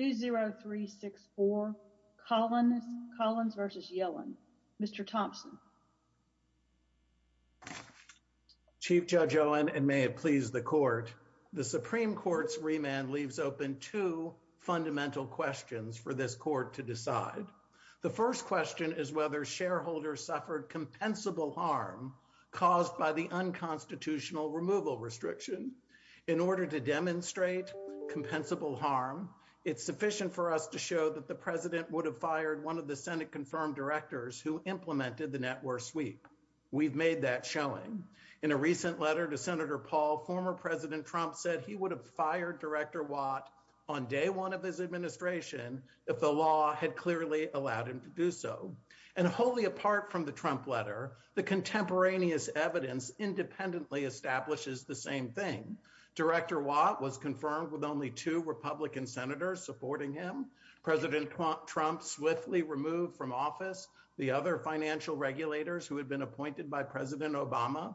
2-0-3-6-4 Collins v. Yellen. Mr. Thompson. Chief Judge Yellen and may it please the Court, the Supreme Court's remand leaves open two fundamental questions for this Court to decide. The first question is whether shareholders suffered compensable harm caused by the unconstitutional removal restriction. In order to demonstrate compensable harm, it's sufficient for us to show that the President would have fired one of the Senate-confirmed directors who implemented the net-worth sweep. We've made that showing. In a recent letter to Senator Paul, former President Trump said he would have fired Director Watt on day one of his administration if the law had clearly allowed him to do so. And wholly apart from the Trump letter, the contemporaneous evidence independently establishes the same thing. Director Watt was confirmed with only two Republican senators supporting him. President Trump swiftly removed from office the other financial regulators who had been appointed by President Obama.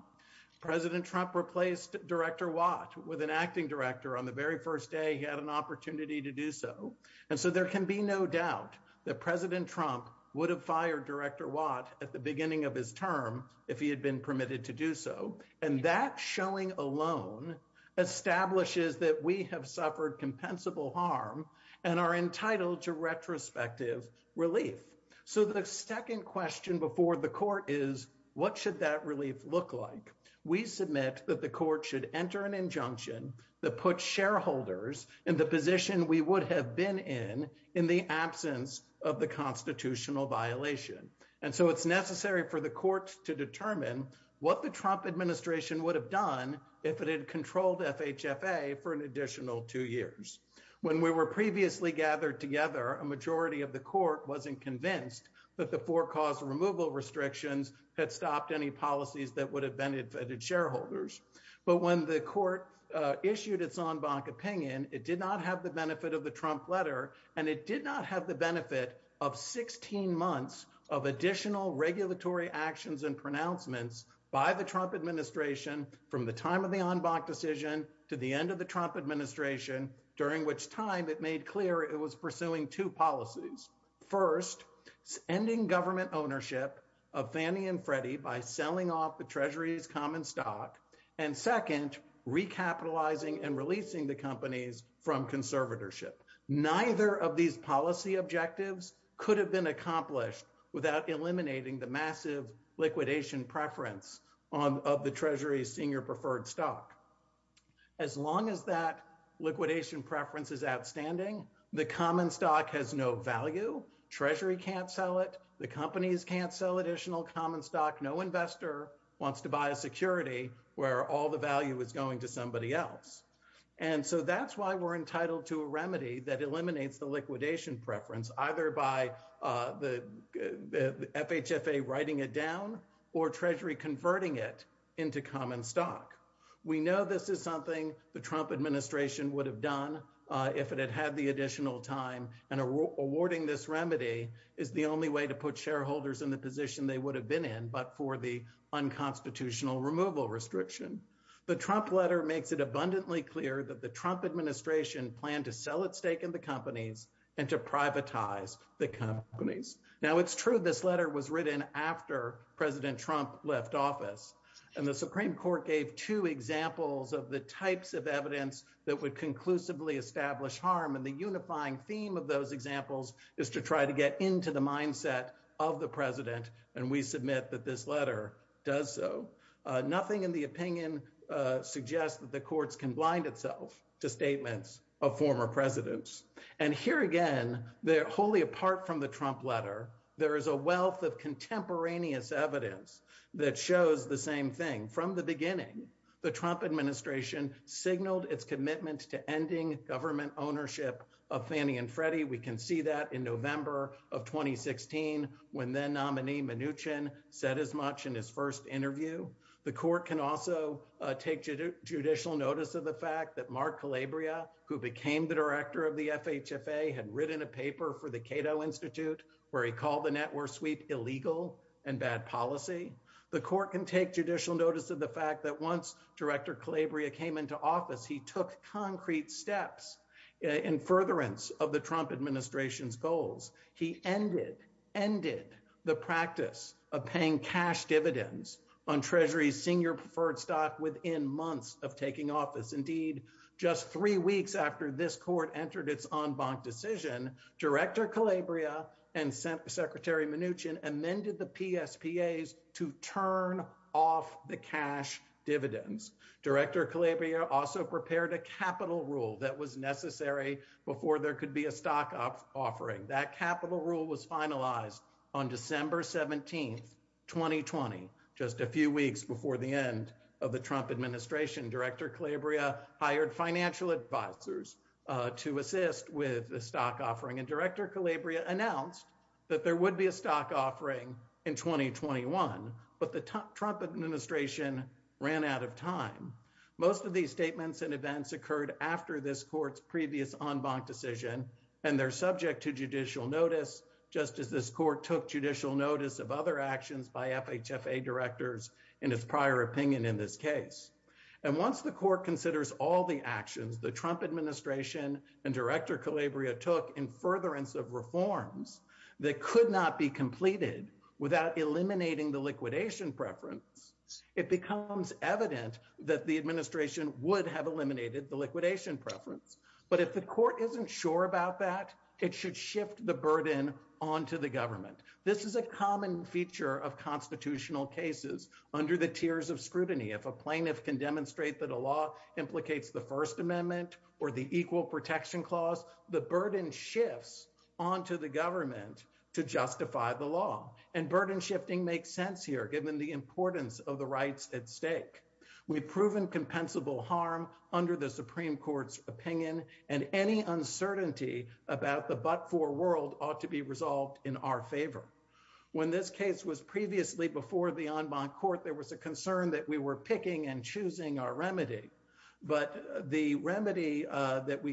President Trump replaced Director Watt with an acting director on the very first day he had an opportunity to do so. And so there can be no doubt that President Trump would have fired Director Watt at the beginning of his term if he had been permitted to do so. And that showing alone establishes that we have suffered compensable harm and are entitled to retrospective relief. So the second question before the Court is, what should that relief look like? We submit that the Court should enter an injunction that puts shareholders in the position we would have been in in the absence of the constitutional violation. And so it's necessary for Senator Watt for the Court to determine what the Trump administration would have done if it had controlled FHFA for an additional two years. When we were previously gathered together, a majority of the Court wasn't convinced that the four-cause removal restrictions had stopped any policies that would have benefited shareholders. But when the Court issued its en banc opinion, it did not have the benefit of the Trump letter, and it did not have the benefit of 16 months of additional regulatory actions and pronouncements by the Trump administration from the time of the en banc decision to the end of the Trump administration, during which time it made clear it was pursuing two policies. First, ending government ownership of Fannie and Freddie by selling off the Treasury's common stock, and second, recapitalizing and releasing the companies from conservatorship. Neither of these policy objectives could have been accomplished without eliminating the massive liquidation preference of the Treasury's senior preferred stock. As long as that liquidation preference is outstanding, the common stock has no value. Treasury can't sell it. The companies can't sell additional common stock. No investor wants to buy security where all the value is going to somebody else. And so that's why we're entitled to a remedy that eliminates the liquidation preference, either by the FHFA writing it down or Treasury converting it into common stock. We know this is something the Trump administration would have done if it had had the additional time, and awarding this remedy is the only way to put shareholders in the position they would have been in but for the unconstitutional removal restriction. The Trump letter makes it abundantly clear that the Trump administration planned to sell its stake in the companies and to privatize the companies. Now it's true this letter was written after President Trump left office, and the Supreme Court gave two examples of the types of evidence that would conclusively establish harm, and the unifying theme of those examples is to try to get into the mindset of the president, and we submit that this letter does so. Nothing in the opinion suggests that the courts can blind itself to statements of former presidents. And here again, they're wholly apart from the Trump letter. There is a wealth of contemporaneous evidence that shows the same thing. From the beginning, the Trump administration signaled its commitment to the FHFA in January of 2016, when then nominee Mnuchin said as much in his first interview. The court can also take judicial notice of the fact that Mark Calabria, who became the director of the FHFA, had written a paper for the Cato Institute where he called the network sweep illegal and bad policy. The court can take judicial notice of the fact that once Director Calabria came into office, he took concrete steps in furtherance of the Trump administration's goals. He ended the practice of paying cash dividends on Treasury's senior preferred stock within months of taking office. Indeed, just three weeks after this court entered its en banc decision, Director Calabria and Secretary Mnuchin amended the PSPAs to turn off the cash dividends. Director Calabria also prepared a capital rule that was necessary before there could be a stock offering. That capital rule was finalized on December 17, 2020, just a few weeks before the end of the Trump administration. Director Calabria hired financial advisors to assist with the stock offering, and Director Calabria announced that there would be a stock offering in 2021, but the Trump administration ran out of time. Most of these statements and events occurred after this court's previous en banc decision, and they're subject to judicial notice, just as this court took judicial notice of other actions by FHFA directors in its prior opinion in this case. And once the court considers all the actions the Trump administration and Director Calabria took in furtherance of reforms that could not be completed without eliminating the liquidation preference, it becomes evident that the administration would have eliminated the liquidation preference. But if the court isn't sure about that, it should shift the burden onto the government. This is a common feature of constitutional cases under the tiers of scrutiny. If a plaintiff can demonstrate that a law implicates the First Amendment or the Equal Protection Clause, the burden shifts onto the law. And burden shifting makes sense here, given the importance of the rights at stake. We've proven compensable harm under the Supreme Court's opinion, and any uncertainty about the but-for world ought to be resolved in our favor. When this case was previously before the en banc court, there was a concern that we were picking and choosing our remedy. But the remedy that we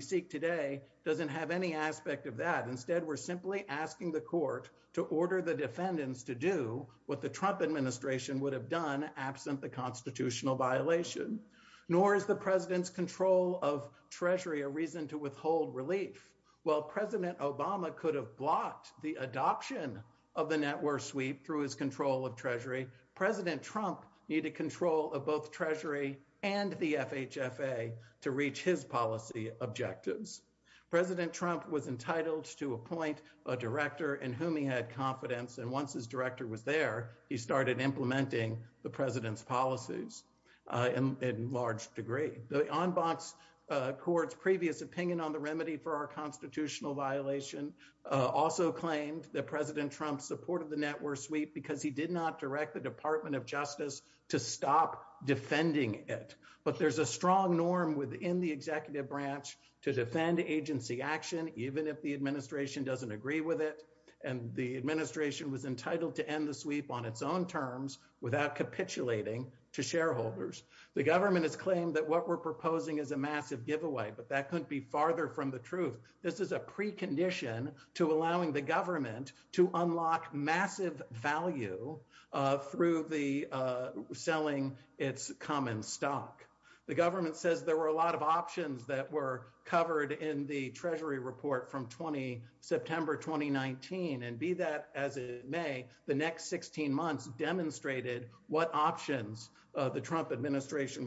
instead were simply asking the court to order the defendants to do what the Trump administration would have done absent the constitutional violation. Nor is the President's control of Treasury a reason to withhold relief. While President Obama could have blocked the adoption of the network sweep through his control of Treasury, President Trump needed control of to appoint a director in whom he had confidence. And once his director was there, he started implementing the President's policies in large degree. The en banc court's previous opinion on the remedy for our constitutional violation also claimed that President Trump supported the network sweep because he did not direct the Department of Justice to stop defending it. But there's a strong norm within the executive branch to defend agency action, even if the administration doesn't agree with it. And the administration was entitled to end the sweep on its own terms without capitulating to shareholders. The government has claimed that what we're proposing is a massive giveaway, but that couldn't be farther from the truth. This is a precondition to allowing the government to unlock massive value through the selling its common stock. The government says there were a lot of options that were covered in the Treasury report from September 2019. And be that as it may, the next 16 months demonstrated what options the Trump administration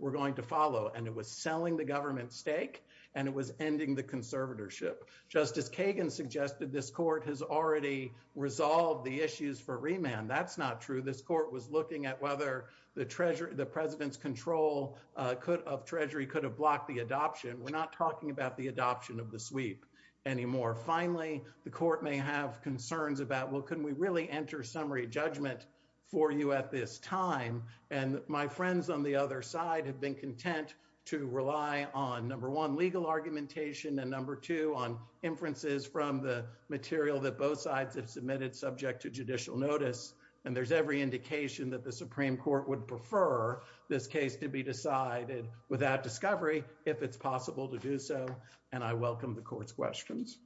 were going to follow. And it was selling the government's stake, and it was ending the conservatorship. Justice Kagan suggested this court has already resolved the issues for remand. That's not true. This court was looking at whether the president's control of Treasury could have blocked the adoption. We're not talking about the adoption of the sweep anymore. Finally, the court may have concerns about, well, can we really enter summary judgment for you at this time? And my friends on the other side have been content to rely on, number one, legal argumentation, and number two, on inferences from the material that both sides have submitted subject to judicial notice. And there's every indication that the Supreme Court would prefer this case to be decided without discovery if it's possible to do so. And I welcome the court's questions.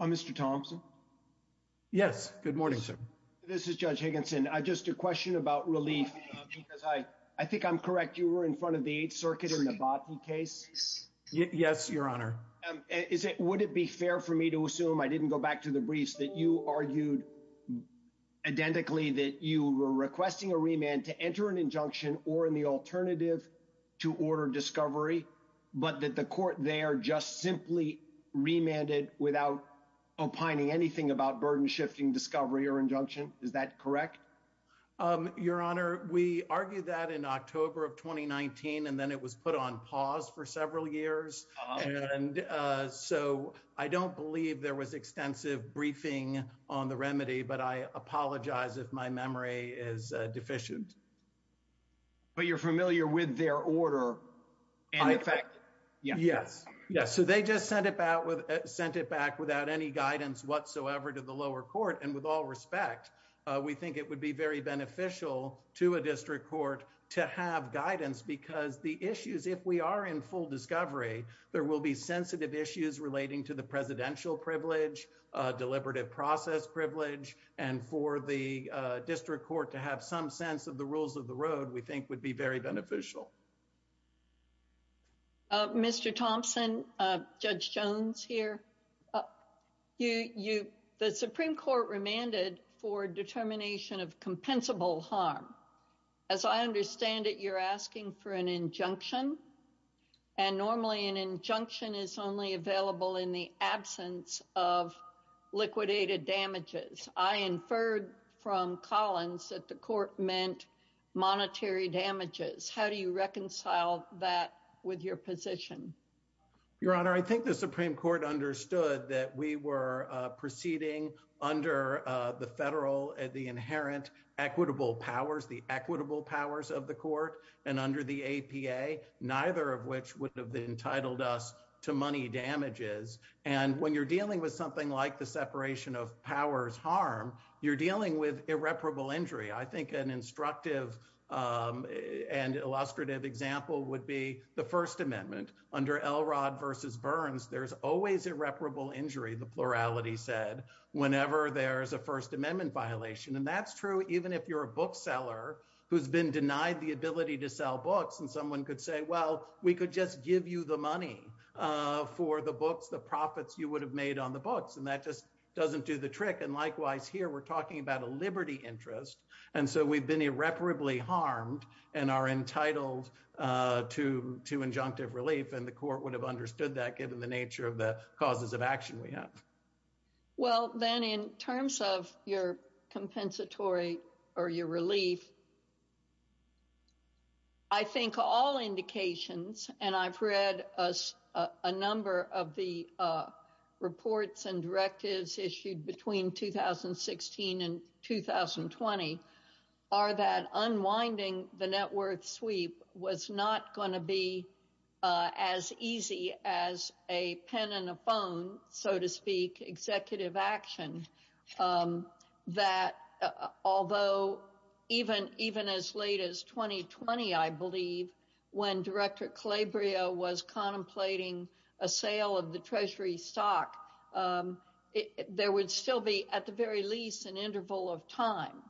Mr. Thompson? Yes. Good morning, sir. This is Judge Higginson. Just a question about relief, because I think I'm correct. You were in front of the Eighth Circuit in the Bhati case? Yes, Your Honor. Would it be fair for me to assume, I didn't go back to the briefs, that you argued identically that you were requesting a remand to enter an injunction or in the alternative to order discovery, but that the court there just simply remanded without opining anything about burden shifting discovery or injunction? Is that correct? Your Honor, we argued that in October of 2019, and then it was put on pause for several years. And so, I don't believe there was extensive briefing on the remedy, but I apologize if my memory is deficient. But you're familiar with their order, and in fact... Yes. Yes. So, they just sent it back without any guidance whatsoever to the lower court. And with all respect, we think it would be very beneficial to a district court to have guidance, because the issues, if we are in full discovery, there will be sensitive issues relating to the presidential privilege, deliberative process privilege, and for the district court to have some sense of the rules of the road, we think would be very beneficial. Mr. Thompson, Judge Jones here. The Supreme Court remanded for determination of compensable harm. As I understand it, you're asking for an injunction. And normally, an injunction is only available in the absence of liquidated damages. I inferred from Collins that the court meant monetary damages. How do you reconcile that with your position? Your Honor, I think the Supreme Court understood that we were proceeding under the federal, the inherent equitable powers, the equitable powers of the court, and under the APA, neither of which would have entitled us to money damages. And when you're dealing with something like the separation of powers harm, you're dealing with irreparable injury. I think an instructive and illustrative example would be the First Amendment. Under Elrod v. Burns, there's always irreparable injury, the plurality said, whenever there's a First Amendment violation. And that's true even if you're a bookseller who's been denied the ability to sell books, and someone could say, well, we could just give you the money for the books, the profits you would have made on the books. And that just doesn't do the trick. And likewise here, we're talking about a liberty interest. And so we've been irreparably harmed and are entitled to injunctive relief. And the court would have understood that given the nature of the causes of action we have. Well, then in terms of your compensatory or your relief, I think all indications, and I've read a number of the reports and directives issued between 2016 and 2020, are that unwinding the net worth sweep was not going to be as easy as a pen and a phone, so to speak, executive action. That although even as late as 2020, I believe, when Director Calabria was contemplating a sale of the Treasury stock, there would still be at very least an interval of time.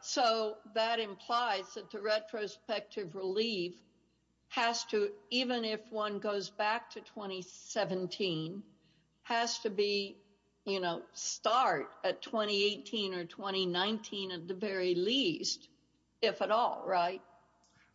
So that implies that the retrospective relief has to, even if one goes back to 2017, has to start at 2018 or 2019 at the very least, if at all, right?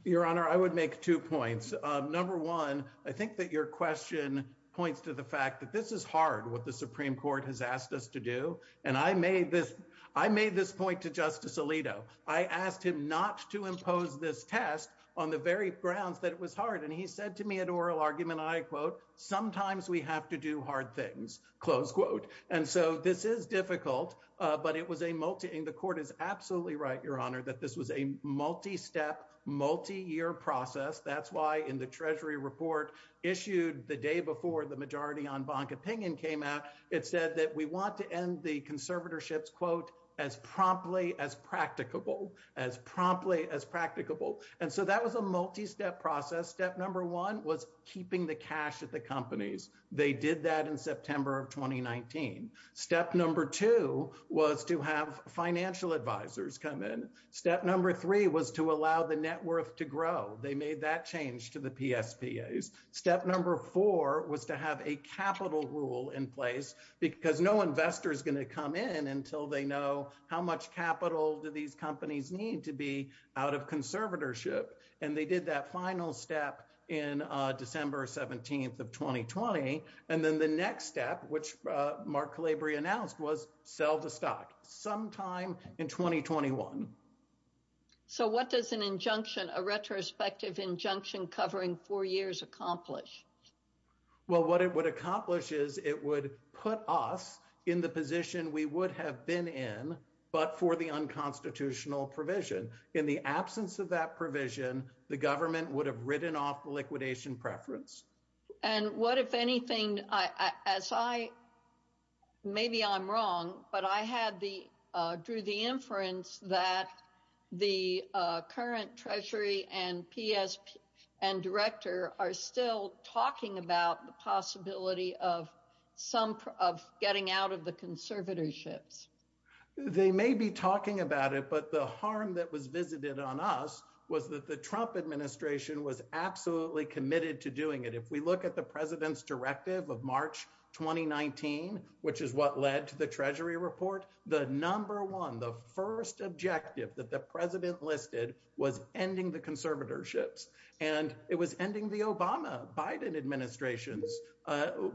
Your Honor, I would make two points. Number one, I think that your question points to the fact that this is hard, what the Supreme Court has asked us to do. And I made this point to Justice Alito. I asked him not to impose this test on the very grounds that it was hard. And he said to me at oral argument, I quote, sometimes we have to do hard things, close quote. And so this is difficult, but the court is absolutely right, Your Honor, that this was a multi-step, multi-year process. That's why in the Treasury report issued the day before the majority on bank opinion came out, it said that we want to end the conservatorships, quote, as promptly as practicable, as promptly as practicable. And so that was a multi-step process. Step number one was keeping the cash at the companies. They did that in September of 2019. Step number two was to have financial advisors come in. Step number three was to allow the net worth to grow. They made that change to the PSPAs. Step number four was to have a capital rule in place because no investor is going to come in until they know how much capital do these companies need to be out of conservatorship. And they did that final step in December 17th of 2020. And then the next step, which was to have a capital rule in place in December of 2021. So what does an injunction, a retrospective injunction covering four years accomplish? Well, what it would accomplish is it would put us in the position we would have been in, but for the unconstitutional provision. In the absence of that provision, the government would have written off the liquidation preference. And what, if anything, as I, maybe I'm wrong, but I had the, drew the inference that the current treasury and PSP and director are still talking about the possibility of some, of getting out of the conservatorships. They may be talking about it, but the harm that was visited on us was that Trump administration was absolutely committed to doing it. If we look at the president's directive of March, 2019, which is what led to the treasury report, the number one, the first objective that the president listed was ending the conservatorships. And it was ending the Obama, Biden administration's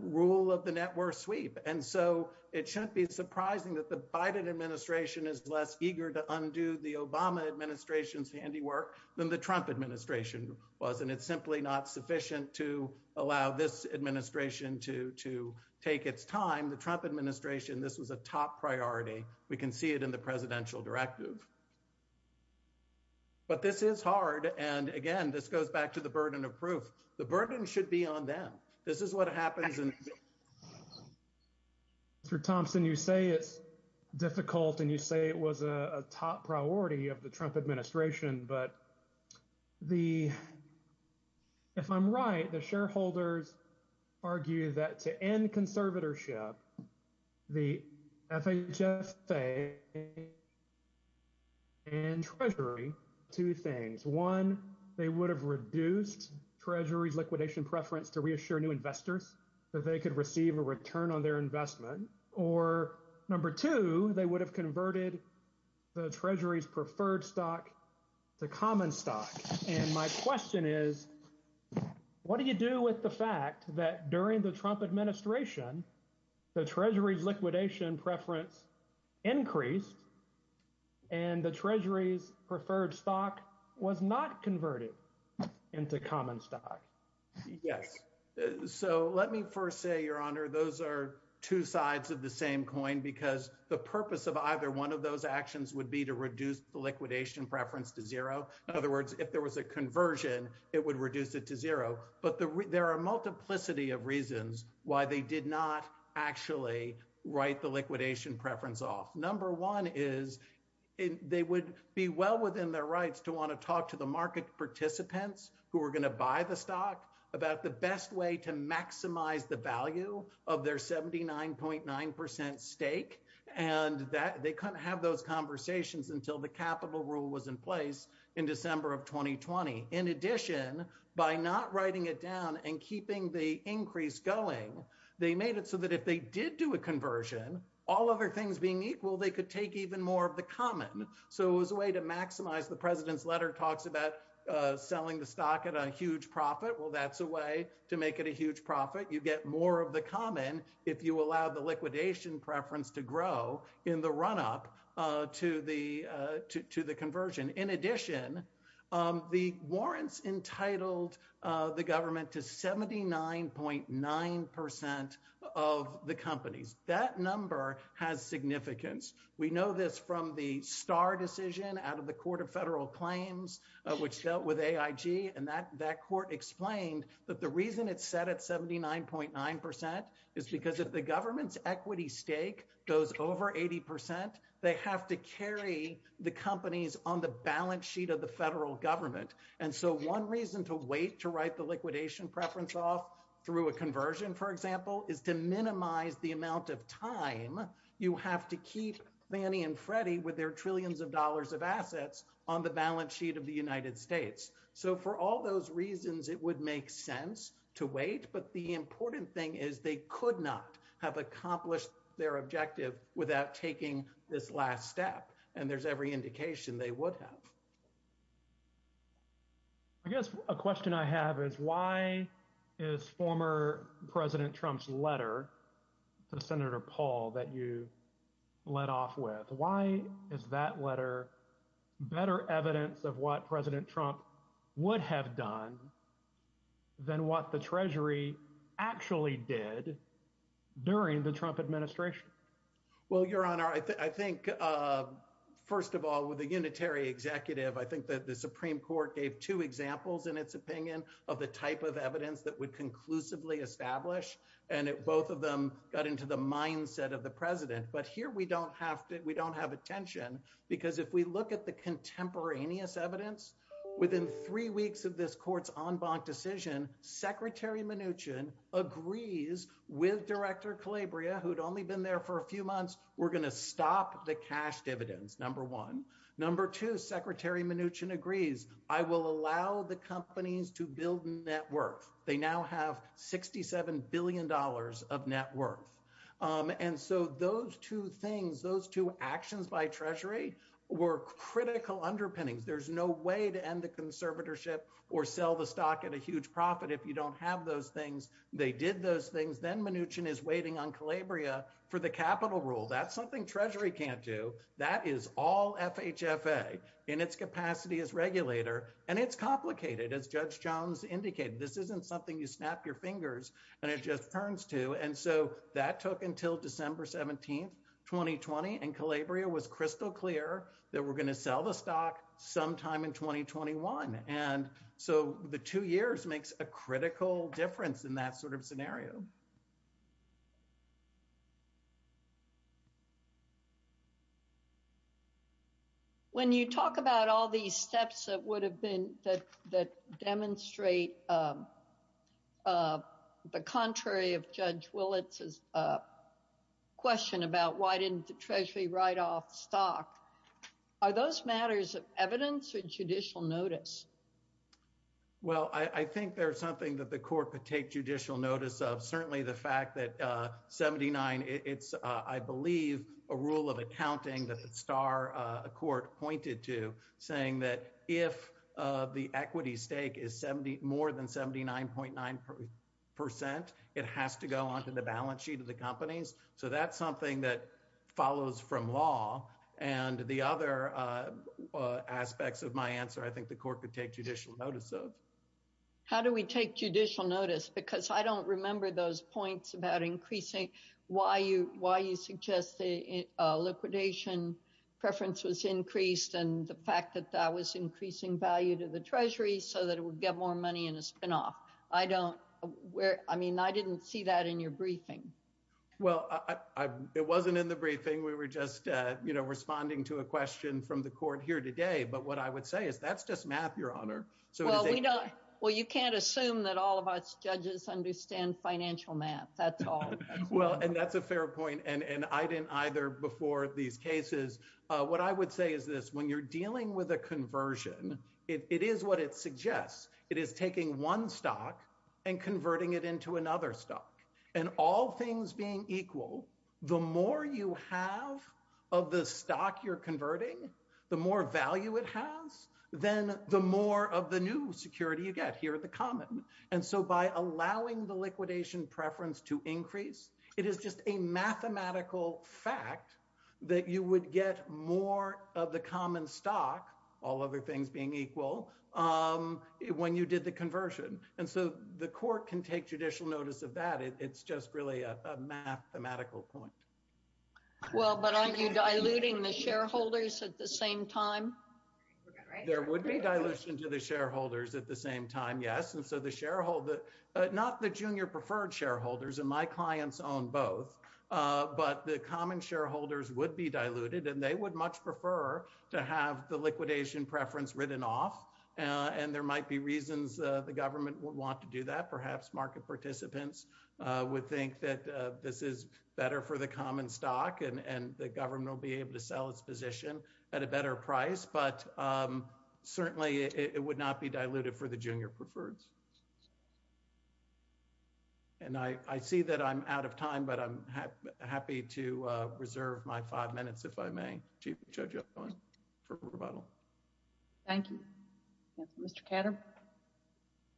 rule of the network sweep. And so it shouldn't be surprising that the Biden administration is less eager to undo the Obama administration's handiwork than the Trump administration was. And it's simply not sufficient to allow this administration to, to take its time. The Trump administration, this was a top priority. We can see it in the presidential directive, but this is hard. And again, this goes back to the burden of proof. The burden should be on them. This is what happens. Mr. Thompson, you say it's difficult and you say it was a top priority of the Trump administration, but the, if I'm right, the shareholders argue that to end conservatorship, the FHFA and treasury, two things, one, they would have reduced treasury's liquidation preference to reassure new investors that they could receive a return on their investment. Or number two, they would have converted the treasury's preferred stock to common stock. And my question is, what do you do with the fact that during the Trump administration, the treasury's liquidation preference increased and the treasury's preferred stock was not converted into common stock? Yes. So let me first say, your honor, those are two sides of the same coin because the purpose of either one of those actions would be to reduce the liquidation preference to zero. In other words, if there was a conversion, it would reduce it to zero, but there are a multiplicity of reasons why they did not actually write the liquidation preference off. Number one is they would be well within their rights to want to talk to the market participants who are going to buy the stock about the best way to maximize the value of their 79.9 percent stake. And they couldn't have those conversations until the capital rule was in place in December of 2020. In addition, by not writing it down and keeping the increase going, they made it so that if they did do a conversion, all other things being equal, they could take even more of the common. So it was a way to maximize. The president's letter talks about selling the stock at a huge profit. Well, that's a way to make it a huge profit. You get more of the common if you allow the liquidation preference to grow in the run up to the conversion. In addition, the warrants entitled the government to 79.9 percent of the companies. That number has significance. We know this from the Starr decision out of the Court of Federal Claims, which dealt with AIG. And that court explained that the reason it's set at 79.9 percent is because if the government's equity stake goes over 80 percent, they have to carry the companies on the balance sheet of the federal government. And so one reason to wait to write the liquidation preference off through a conversion, for example, is to minimize the amount of time you have to keep Fannie and Freddie with their trillions of dollars of assets on the balance sheet of the United States. So for all those reasons, it would make sense to wait. But the important thing is they could not have accomplished their objective without taking this last step. And there's every indication they would have. I guess a question I have is why is former President Trump's letter to Senator Paul that you let off with? Why is that letter better evidence of what President Trump would have done than what the Treasury actually did during the Trump administration? Well, Your Honor, I think first of all, with a unitary executive, I think that the Supreme Court gave two examples in its opinion of the type of evidence that would conclusively establish. And both of them got into the mindset of the president. But here we don't have to. We don't have attention because if we look at the contemporaneous evidence within three weeks of this court's en banc decision, Secretary Mnuchin agrees with Director Calabria, who'd only been there for a few months. We're going to stop the cash dividends, number one. Number two, Secretary Mnuchin agrees, I will allow the companies to build net worth. They now have $67 billion of net worth. And so those two things, those two actions by Treasury were critical underpinnings. There's no way to end the conservatorship or sell the stock at a huge profit if you don't have those things. They did those things. Then Mnuchin is waiting on Calabria for the capital rule. That's something Treasury can't do. That is all FHFA in its capacity as regulator. And it's complicated. As Judge Jones indicated, this isn't something you snap your fingers and it just turns to. And so that took until December 17th, 2020, and Calabria was crystal clear that we're going to sell the stock sometime in 2021. And so the two years makes a difference. When you talk about all these steps that would have been that demonstrate the contrary of Judge Willits' question about why didn't the Treasury write off stock, are those matters of evidence or judicial notice? Well, I think there's something that the court could take judicial notice of. Certainly, the fact that 79, it's, I believe, a rule of accounting that the star court pointed to saying that if the equity stake is more than 79.9%, it has to go onto the balance sheet of the companies. So that's something that follows from law. And the other aspects of my answer, I think the court could take judicial notice of. How do we take judicial notice? Because I don't remember those points about increasing why you suggest the liquidation preference was increased and the fact that that was increasing value to the Treasury so that it would get more money in a spinoff. I don't, I mean, I didn't see that in your briefing. Well, it wasn't in the briefing. We were just responding to a question from the court here today. But what I would say is that's math, Your Honor. Well, you can't assume that all of us judges understand financial math, that's all. Well, and that's a fair point. And I didn't either before these cases. What I would say is this, when you're dealing with a conversion, it is what it suggests. It is taking one stock and converting it into another stock. And all things being equal, the more you have of the the more of the new security you get here at the common. And so by allowing the liquidation preference to increase, it is just a mathematical fact that you would get more of the common stock, all other things being equal, when you did the conversion. And so the court can take judicial notice of that. It's just really a mathematical point. Well, but are you diluting the shareholders at the same time? There would be dilution to the shareholders at the same time. Yes. And so the shareholder, not the junior preferred shareholders and my clients own both, but the common shareholders would be diluted and they would much prefer to have the liquidation preference written off. And there might be reasons the government would want to do that. Perhaps market participants would think that this is better for the common stock and the government will be able to sell its position at a better price. But certainly it would not be diluted for the junior preferreds. And I see that I'm out of time, but I'm happy to reserve my five minutes, if I may, Chief Judge Owen for rebuttal. Thank you, Mr. Katter.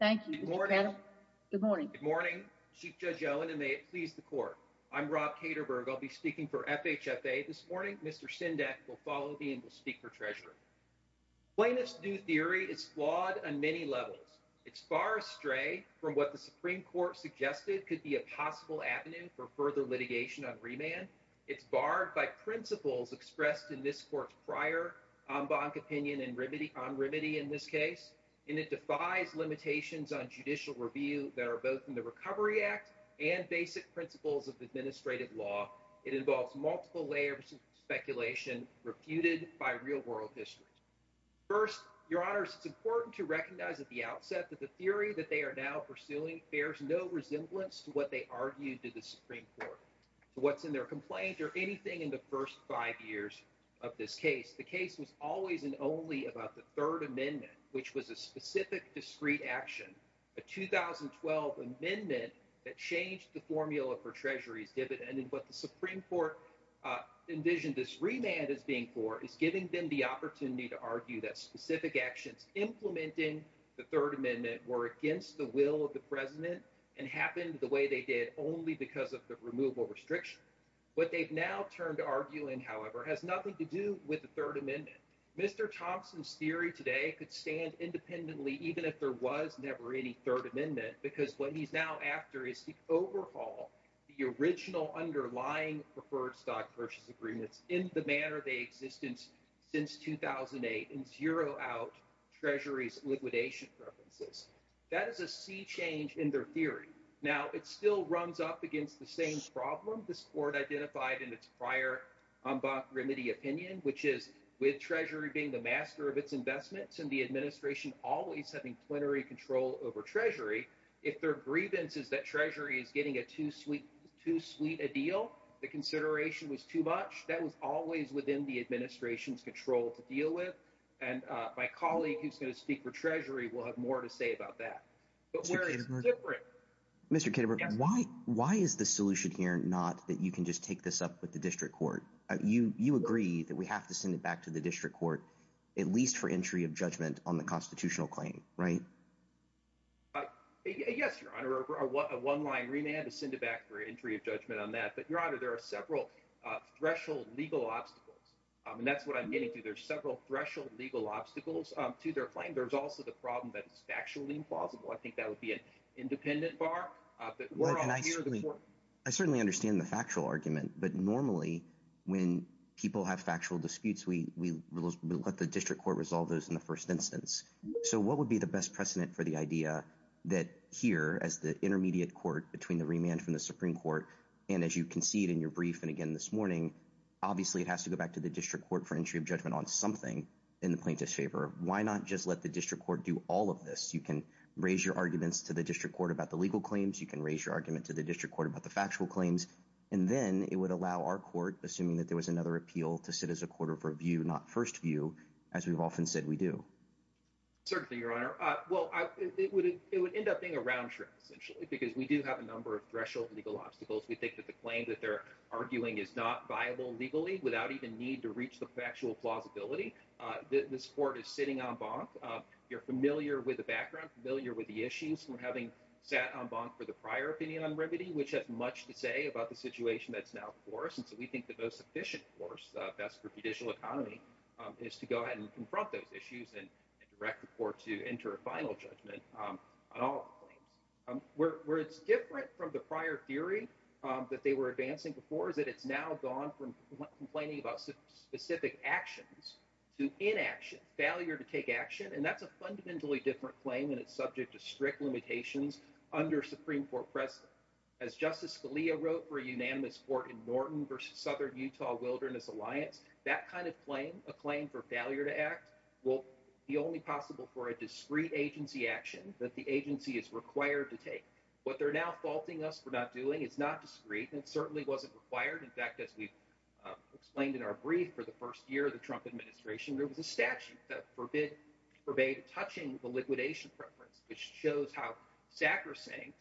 Thank you. Good morning. Good morning, Chief Judge Owen, and may it please the court. I'm Rob Katerberg. I'll be speaking for FHFA this morning. Mr. Sendak will follow me and will speak for Treasury. Plaintiff's new theory is flawed on many levels. It's far astray from what the Supreme Court suggested could be a possible avenue for further litigation on remand. It's barred by principles expressed in this court's prior en banc opinion and remedy on remedy in this case. And it defies limitations on judicial review that are both in the Recovery Act and basic principles of administrative law. It involves multiple layers of speculation refuted by real-world histories. First, Your Honors, it's important to recognize at the outset that the theory that they are now pursuing bears no resemblance to what they argued to the Supreme Court, to what's in their complaint or anything in the first five years of this case. The case was always and only about the Third Amendment, which was a specific discrete action, a 2012 amendment that changed the formula for remand. What the Supreme Court envisioned this remand as being for is giving them the opportunity to argue that specific actions implementing the Third Amendment were against the will of the President and happened the way they did only because of the removal restriction. What they've now turned to arguing, however, has nothing to do with the Third Amendment. Mr. Thompson's theory today could stand independently even if there was never any Third Amendment because what he's now after is to overhaul the original underlying preferred stock purchase agreements in the manner they exist since 2008 and zero out Treasury's liquidation preferences. That is a sea change in their theory. Now, it still runs up against the same problem this Court identified in its prior remedy opinion, which is with Treasury being the master of its investments and the administration always having plenary control over Treasury. If their grievance is that Treasury is getting a too sweet a deal, the consideration was too much. That was always within the administration's control to deal with. My colleague who's going to speak for Treasury will have more to say about that. Mr. Kitterberg, why is the solution here not that you can just take this up with the District Court? You agree that we have to send it back to the District Court at least for entry of judgment on the constitutional claim, right? Yes, Your Honor. A one-line remand to send it back for entry of judgment on that. But, Your Honor, there are several threshold legal obstacles, and that's what I'm getting to. There's several threshold legal obstacles to their claim. There's also the problem that it's factually implausible. I think that would be an independent bar. I certainly understand the factual argument, but normally when people have factual disputes, we let the District Court resolve those in the first instance. So what would be the best precedent for the idea that here as the intermediate court between the remand from the Supreme Court and as you concede in your brief and again this morning, obviously it has to go back to the District Court for entry of judgment on something in the plaintiff's favor. Why not just let the District Court do all of this? You can raise your arguments to the District Court about the legal claims. You can raise your argument to the District Court about the factual claims, and then it would allow our court, assuming that there was another appeal, to sit as a court of review, not first view, as we've often said we do. Certainly, Your Honor. Well, it would end up being a round trip, essentially, because we do have a number of threshold legal obstacles. We think that the claim that they're arguing is not viable legally without even need to reach the factual plausibility. This court is sitting en banc. You're familiar with the background, familiar with the issues from having sat en banc for the prior opinion on remedy, which has much to say about the situation that's now before us, and so we think the most efficient course, best for judicial economy, is to go ahead and confront those issues and direct the court to enter a final judgment on all of the claims. Where it's different from the prior theory that they were advancing before is that it's now gone from complaining about specific actions to inaction, failure to take action, and that's a fundamentally different claim and it's subject to strict limitations under Supreme Court precedent. As Justice Scalia wrote for a unanimous court in Norton versus Southern Utah Wilderness Alliance, that kind of claim, a claim for failure to act, will be only possible for a discreet agency action that the agency is required to take. What they're now faulting us for not doing is not discreet and certainly wasn't required. In fact, as we've explained in our brief for the first year of the Trump administration, there was a statute that forbade touching the liquidation preference, which shows how sacrosanct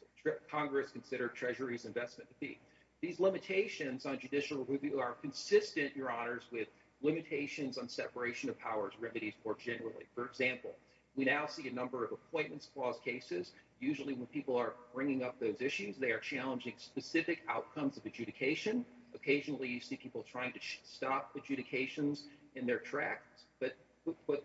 Congress considered Treasury's investment to be. These limitations on judicial review are consistent, Your Honors, with limitations on separation of powers remedies more generally. For example, we now see a number of appointments clause cases. Usually when people are bringing up those issues, they are challenging specific outcomes of adjudication. Occasionally you see people trying to stop adjudications in their tracks, but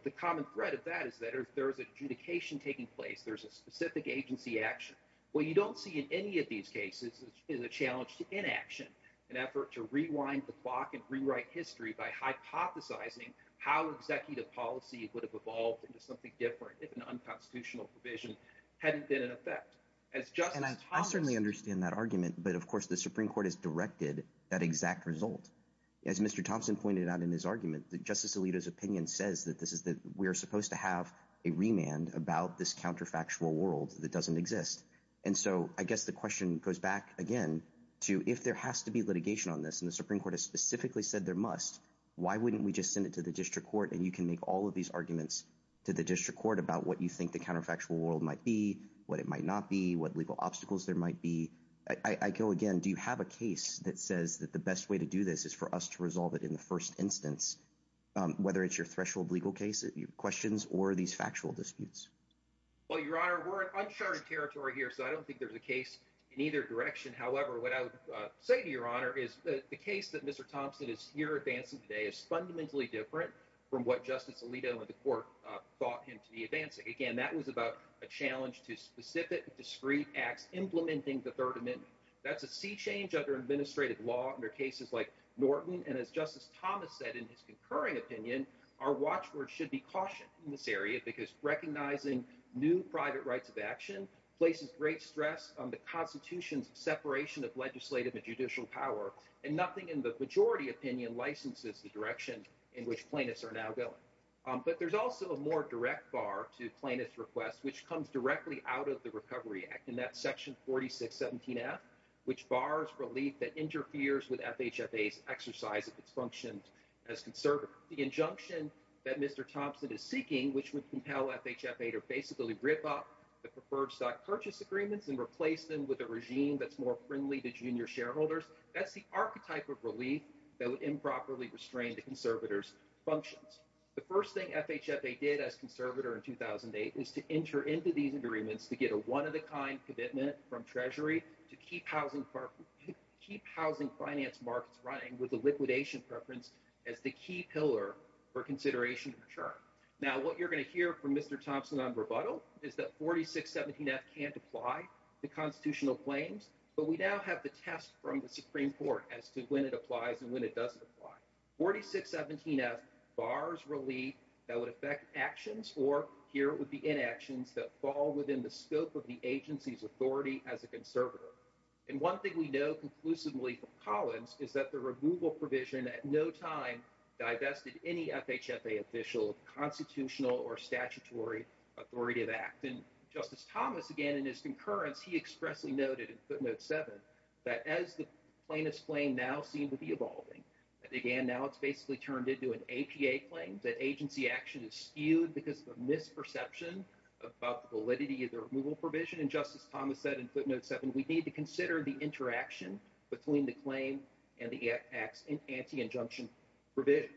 the common thread of that is that there is adjudication taking place. There's a specific agency action. What you don't see in any of these cases is a challenge to inaction, an effort to rewind the clock and rewrite history by hypothesizing how executive policy would have evolved into something different if an unconstitutional provision hadn't been in effect. And I certainly understand that argument, but of course the Supreme Court has directed that exact result. As Mr. Thompson pointed out in his argument, that Justice Alito's opinion says that this is that we're supposed to have a remand about this counterfactual world that doesn't exist. And so I guess the question goes back again to if there has to be litigation on this, and the Supreme Court has specifically said there must, why wouldn't we just send it to the district court? And you can make all of these arguments to the district court about what you think the counterfactual world might be, what it might not be, what legal obstacles there might be. I go again, do you have a case that says that the best way to do this is for us to resolve it in the first instance, whether it's your threshold legal case, your questions, or these factual disputes? Well, Your Honor, we're in uncharted territory here, so I don't think there's a case in either direction. However, what I would say to Your Honor is the case that Mr. Thompson is here advancing today is fundamentally different from what Justice Alito and the court thought him to be advancing. Again, that was about a challenge to specific, discrete acts implementing the Third Amendment. That's a sea change under administrative law under cases like Norton, and as Justice Thomas said in his concurring opinion, our watchword should be caution in this area, because recognizing new private rights of action places great stress on the Constitution's separation of legislative and judicial power, and nothing in the majority opinion licenses the direction in which plaintiffs are now going. But there's also a more direct bar to plaintiffs' requests, which comes directly out of the Recovery Act, and that's Section 4617F, which bars relief that interferes with FHFA's exercise of its functions as conservators. The injunction that Mr. Thompson is seeking, which would compel FHFA to basically rip up the preferred stock purchase agreements and replace them with a regime that's more friendly to junior shareholders, that's the archetype of relief that would improperly functions. The first thing FHFA did as conservator in 2008 was to enter into these agreements to get a one-of-a-kind commitment from Treasury to keep housing finance markets running with the liquidation preference as the key pillar for consideration of the term. Now, what you're going to hear from Mr. Thompson on rebuttal is that 4617F can't apply to constitutional claims, but we now have the test from the Supreme Court as to when it applies and when it doesn't apply. 4617F bars relief that would affect actions, or here would be inactions, that fall within the scope of the agency's authority as a conservator. And one thing we know conclusively from Collins is that the removal provision at no time divested any FHFA official of constitutional or statutory authoritative act. And Justice Thomas, again, in his concurrence, he expressly noted in footnote 7 that as the plaintiff's claim now seemed to be evolving, and again, now it's basically turned into an APA claim, that agency action is skewed because of a misperception about the validity of the removal provision. And Justice Thomas said in footnote 7, we need to consider the interaction between the claim and the anti-injunction provision.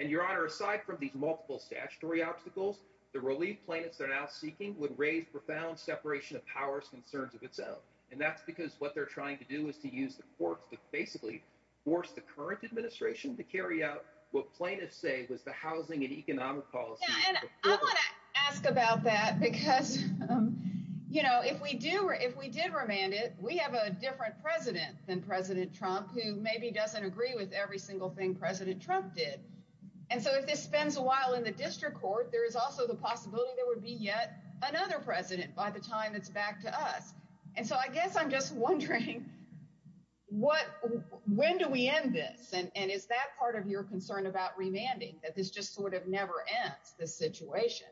And, Your Honor, aside from these multiple statutory obstacles, the relief plaintiffs are now seeking would raise profound separation of powers concerns of itself. And that's because what they're trying to do is to use the courts to basically force the current administration to carry out what plaintiffs say was the housing and economic policy. And I want to ask about that because, you know, if we do, if we did remand it, we have a different president than President Trump, who maybe doesn't agree with every single thing President Trump did. And so if this spends a while in the district court, there is also the possibility there would be yet another president by the time it's back to us. And so I guess I'm just wondering, when do we end this? And is that part of your concern about remanding, that this just sort of never ends, this situation?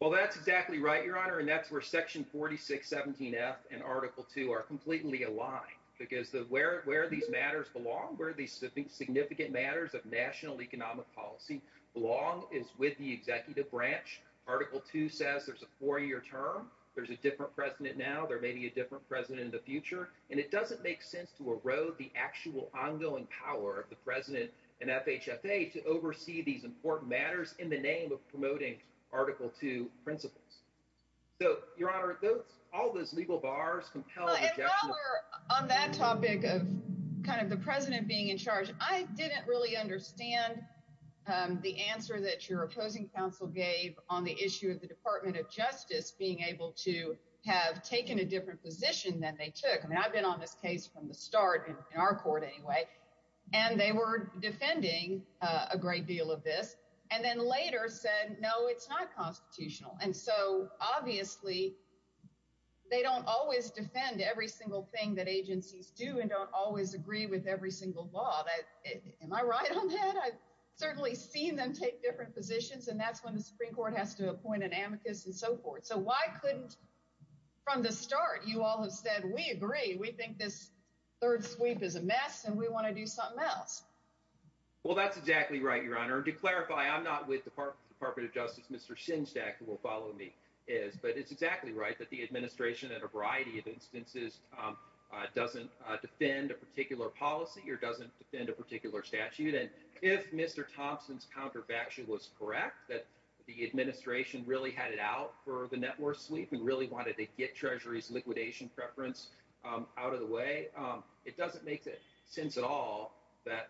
Well, that's exactly right, Your Honor. And that's where section 4617F and article 2 are completely aligned, because where these matters belong, where these significant matters of national economic policy belong, is with the executive branch. Article 2 says there's a four-year term, there's a different president now, there may be a different president in the future. And it doesn't make sense to erode the actual ongoing power of the president and FHFA to oversee these important matters in the name of promoting Article 2 principles. So, Your Honor, those, all those legal bars compel... On that topic of kind of the president being in charge, I didn't really understand the answer that your opposing counsel gave on the issue of the Department of Justice being able to have taken a different position than they took. I mean, I've been on this case from the start, in our court anyway, and they were defending a great deal of this, and then later said, no, it's not constitutional. And so, obviously, they don't always defend every single thing that agencies do and don't always agree with every single law. Am I right on that? I've certainly seen them take different positions, and that's when the Supreme Court has to appoint an amicus and so forth. So why couldn't, from the start, you all have said, we agree, we think this third sweep is a mess and we want to do something else. Well, that's exactly right, Your Honor. To clarify, I'm not with the Department of Justice, Mr. Shinstack, who will follow me, is, but it's exactly right that the administration, at a variety of instances, doesn't defend a particular policy or doesn't defend a particular statute. And if Mr. Thompson's counterfactual was correct, that the administration really had it out for the network sweep and really wanted to get Treasury's liquidation preference out of the way, it doesn't make sense at all that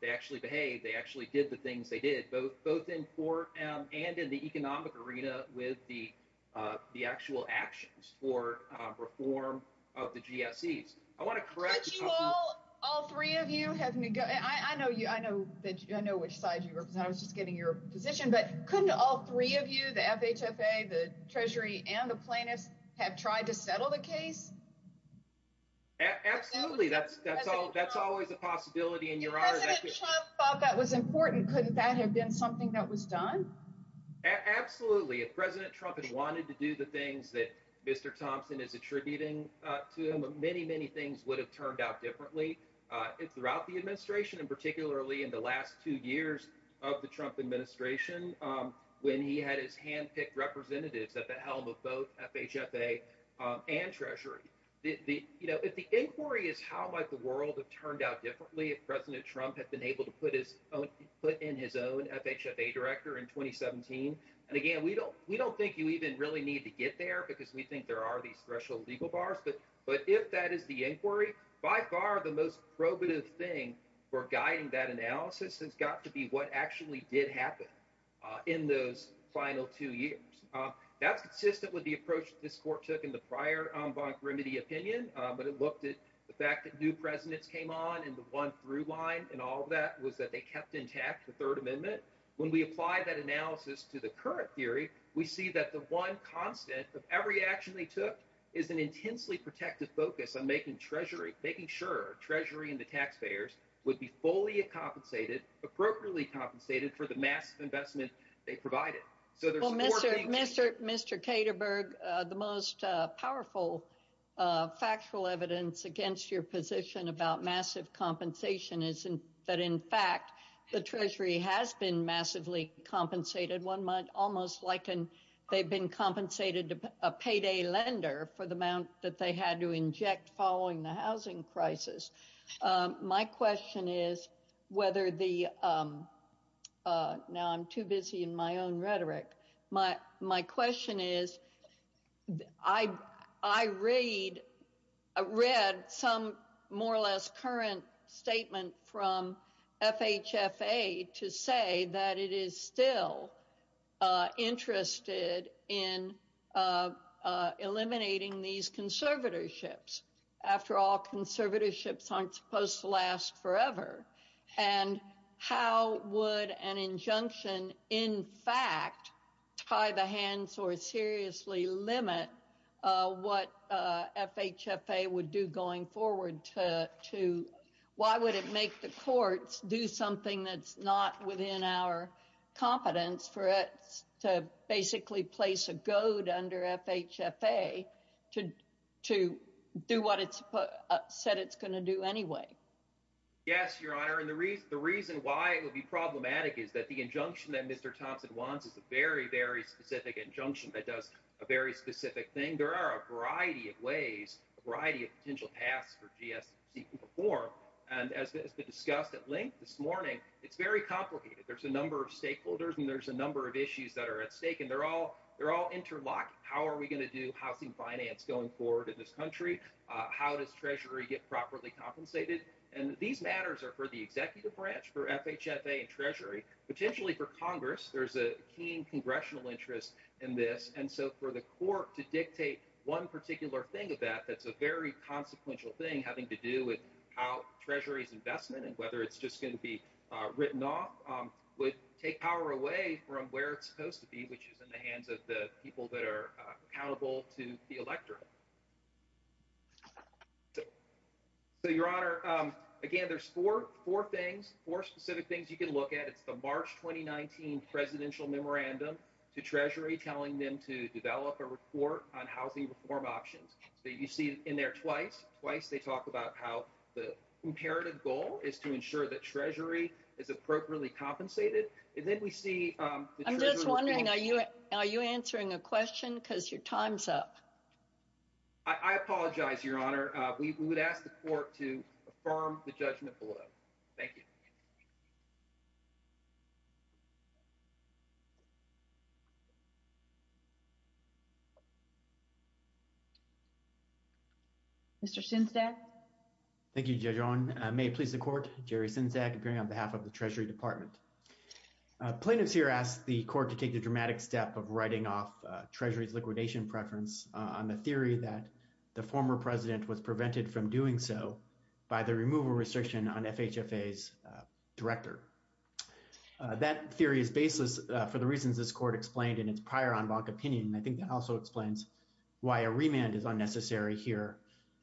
they actually behaved, they actually did the things they did, both in court and in the economic arena, with the actual actions for reform of the GSEs. I want to correct- Couldn't you all, all three of you have, I know which side you represent, I was just getting your position, but couldn't all three of you, the FHFA, the Treasury, and the plaintiffs, have tried to settle the case? Absolutely. That's always a possibility, and Your Honor- If President Trump thought that was important, couldn't that have been something that was done? Absolutely. If President Trump had wanted to do the things that Mr. Thompson is attributing to him, many, many things would have turned out differently throughout the administration, and particularly in the last two years of the Trump administration, when he had his hand-picked representatives at the helm of both FHFA and Treasury. If the inquiry is how might the world have turned out differently if President Trump had been able to put in his own FHFA director in 2017, and again, we don't think you even really need to get there because we think there are these threshold legal bars, but if that is the inquiry, by far the most probative thing for guiding that analysis has got to be what actually did happen in those final two years. That's consistent with the approach this court took in the prior von Grimmedy opinion, but it looked at the fact that new presidents came on, and the one through line, and all of that was that they kept intact the Third Amendment. When we apply that analysis to the current theory, we see that the one constant of every action they took is an fully compensated, appropriately compensated for the massive investment they provided. Mr. Caterberg, the most powerful factual evidence against your position about massive compensation is that, in fact, the Treasury has been massively compensated. One might almost liken they've been compensated a payday lender for the amount that they had to inject following the Now I'm too busy in my own rhetoric. My question is, I read some more or less current statement from FHFA to say that it is still interested in eliminating these conservatorships. After all, and how would an injunction, in fact, tie the hands or seriously limit what FHFA would do going forward? Why would it make the courts do something that's not within our competence for it to basically place a goad under FHFA to do what it said it's going to do anyway? Yes, Your Honor. And the reason why it would be problematic is that the injunction that Mr. Thompson wants is a very, very specific injunction that does a very specific thing. There are a variety of ways, a variety of potential paths for GSC to perform. And as has been discussed at length this morning, it's very complicated. There's a number of stakeholders and there's a number of issues that are at stake, and they're all interlocked. How are we going to do housing going forward in this country? How does Treasury get properly compensated? And these matters are for the executive branch, for FHFA and Treasury, potentially for Congress. There's a keen congressional interest in this. And so for the court to dictate one particular thing of that, that's a very consequential thing having to do with how Treasury's investment and whether it's just going to be written off would take power away from where it's supposed to be, which is in the hands of the people that are accountable to the electorate. So, Your Honor, again, there's four things, four specific things you can look at. It's the March 2019 presidential memorandum to Treasury telling them to develop a report on housing reform options that you see in there twice. Twice, they talk about how the imperative goal is to ensure that Treasury is appropriately compensated. And then we see... I'm just wondering, are you answering a question? Because your time's up. I apologize, Your Honor. We would ask the court to affirm the judgment below. Thank you. Mr. Sinzak? Thank you, Judge Owen. May it please the court, Jerry Sinzak, appearing on behalf of the Treasury Department. Plaintiffs here ask the court to take the dramatic step of writing off Treasury's liquidation preference on the theory that the former president was prevented from doing so by the removal restriction on FHFA's director. That theory is baseless for the reasons this court explained in its prior en banc opinion. And I think that also explains why a remand is unnecessary here.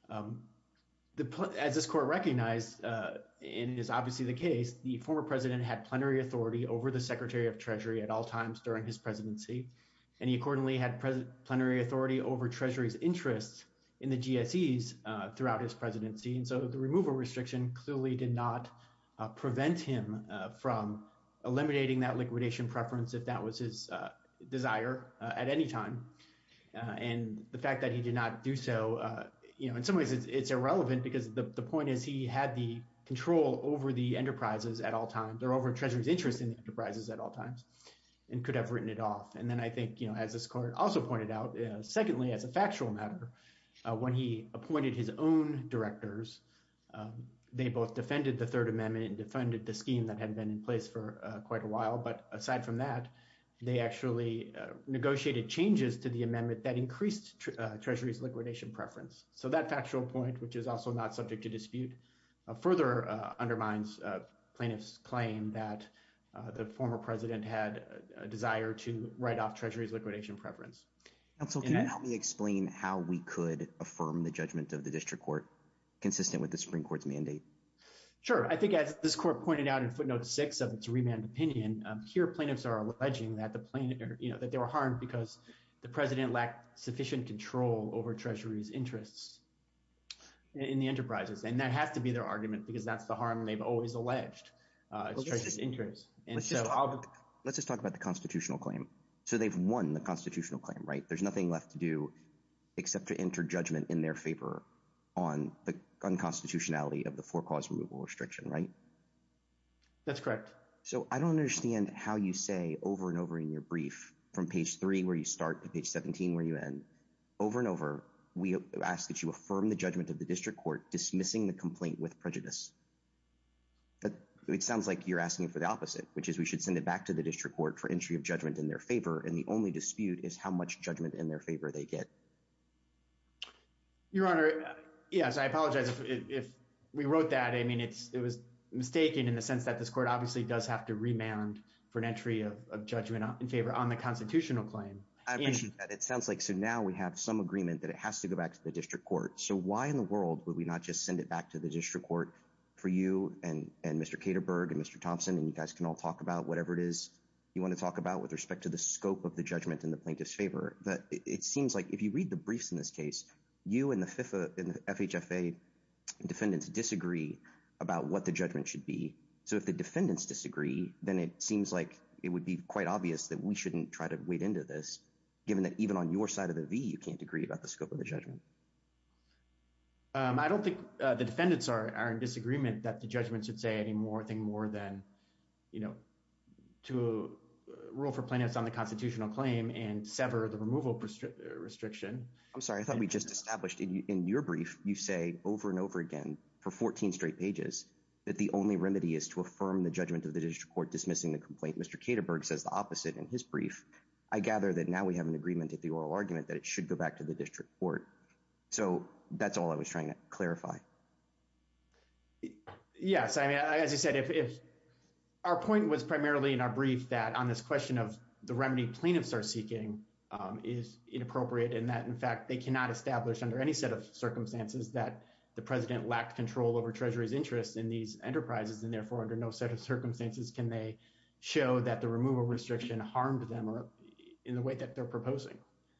As this court recognized, and it is obviously the case, the former president had plenary authority over the Secretary of Treasury at all times during his presidency. And he accordingly had plenary authority over Treasury's interest in the GSEs throughout his presidency. And so the removal restriction clearly did not prevent him from eliminating that liquidation preference if that was his desire at any time. And the fact that he did not do so, in some ways, it's irrelevant because the point is he had the control over the enterprises at all times, or over Treasury's interest in the enterprises at all times, and could have written it off. And as this court also pointed out, secondly, as a factual matter, when he appointed his own directors, they both defended the Third Amendment and defended the scheme that had been in place for quite a while. But aside from that, they actually negotiated changes to the amendment that increased Treasury's liquidation preference. So that factual point, which is also not subject to dispute, further undermines plaintiff's claim that the former president had a desire to write off Treasury's liquidation preference. And so can you help me explain how we could affirm the judgment of the district court consistent with the Supreme Court's mandate? Sure. I think as this court pointed out in footnote six of its remand opinion, here plaintiffs are alleging that they were harmed because the president lacked sufficient control over Treasury's interests in the enterprises. And that has to be their argument because that's the harm they've always alleged. It's Treasury's interest. Let's just talk about the constitutional claim. So they've won the constitutional claim, right? There's nothing left to do except to enter judgment in their favor on the unconstitutionality of the four-cause removal restriction, right? That's correct. So I don't understand how you say over and over in your brief from page three where you start to page 17 where you end, over and over we ask that you affirm the judgment of the district court dismissing the complaint with prejudice. But it sounds like you're asking for the opposite, which is we should send it back to the district court for entry of judgment in their favor and the only dispute is how much judgment in their favor they get. Your Honor, yes, I apologize if we wrote that. I mean, it was mistaken in the sense that this was a constitutional claim. I appreciate that. It sounds like so now we have some agreement that it has to go back to the district court. So why in the world would we not just send it back to the district court for you and Mr. Kederberg and Mr. Thompson and you guys can all talk about whatever it is you want to talk about with respect to the scope of the judgment in the plaintiff's favor? But it seems like if you read the briefs in this case, you and the FHFA defendants disagree about what the judgment should be. So if the defendants disagree, then it seems like it would be quite obvious that we shouldn't try to wade into this, given that even on your side of the V, you can't agree about the scope of the judgment. I don't think the defendants are in disagreement that the judgment should say any more thing more than, you know, to rule for plaintiffs on the constitutional claim and sever the removal restriction. I'm sorry, I thought we just established in your brief you say over and over again for 14 straight pages that the only remedy is to affirm the judgment of the district court dismissing the complaint. Mr. Kederberg says the opposite in his brief. I gather that now we have an agreement at the oral argument that it should go back to the district court. So that's all I was trying to clarify. Yes, I mean, as you said, if our point was primarily in our brief that on this question of the remedy plaintiffs are seeking is inappropriate and that in fact they cannot establish under any set of circumstances that the president lacked control over treasury's interest in these enterprises and therefore under no set of circumstances can they show that the removal restriction harmed them or in the way that they're proposing.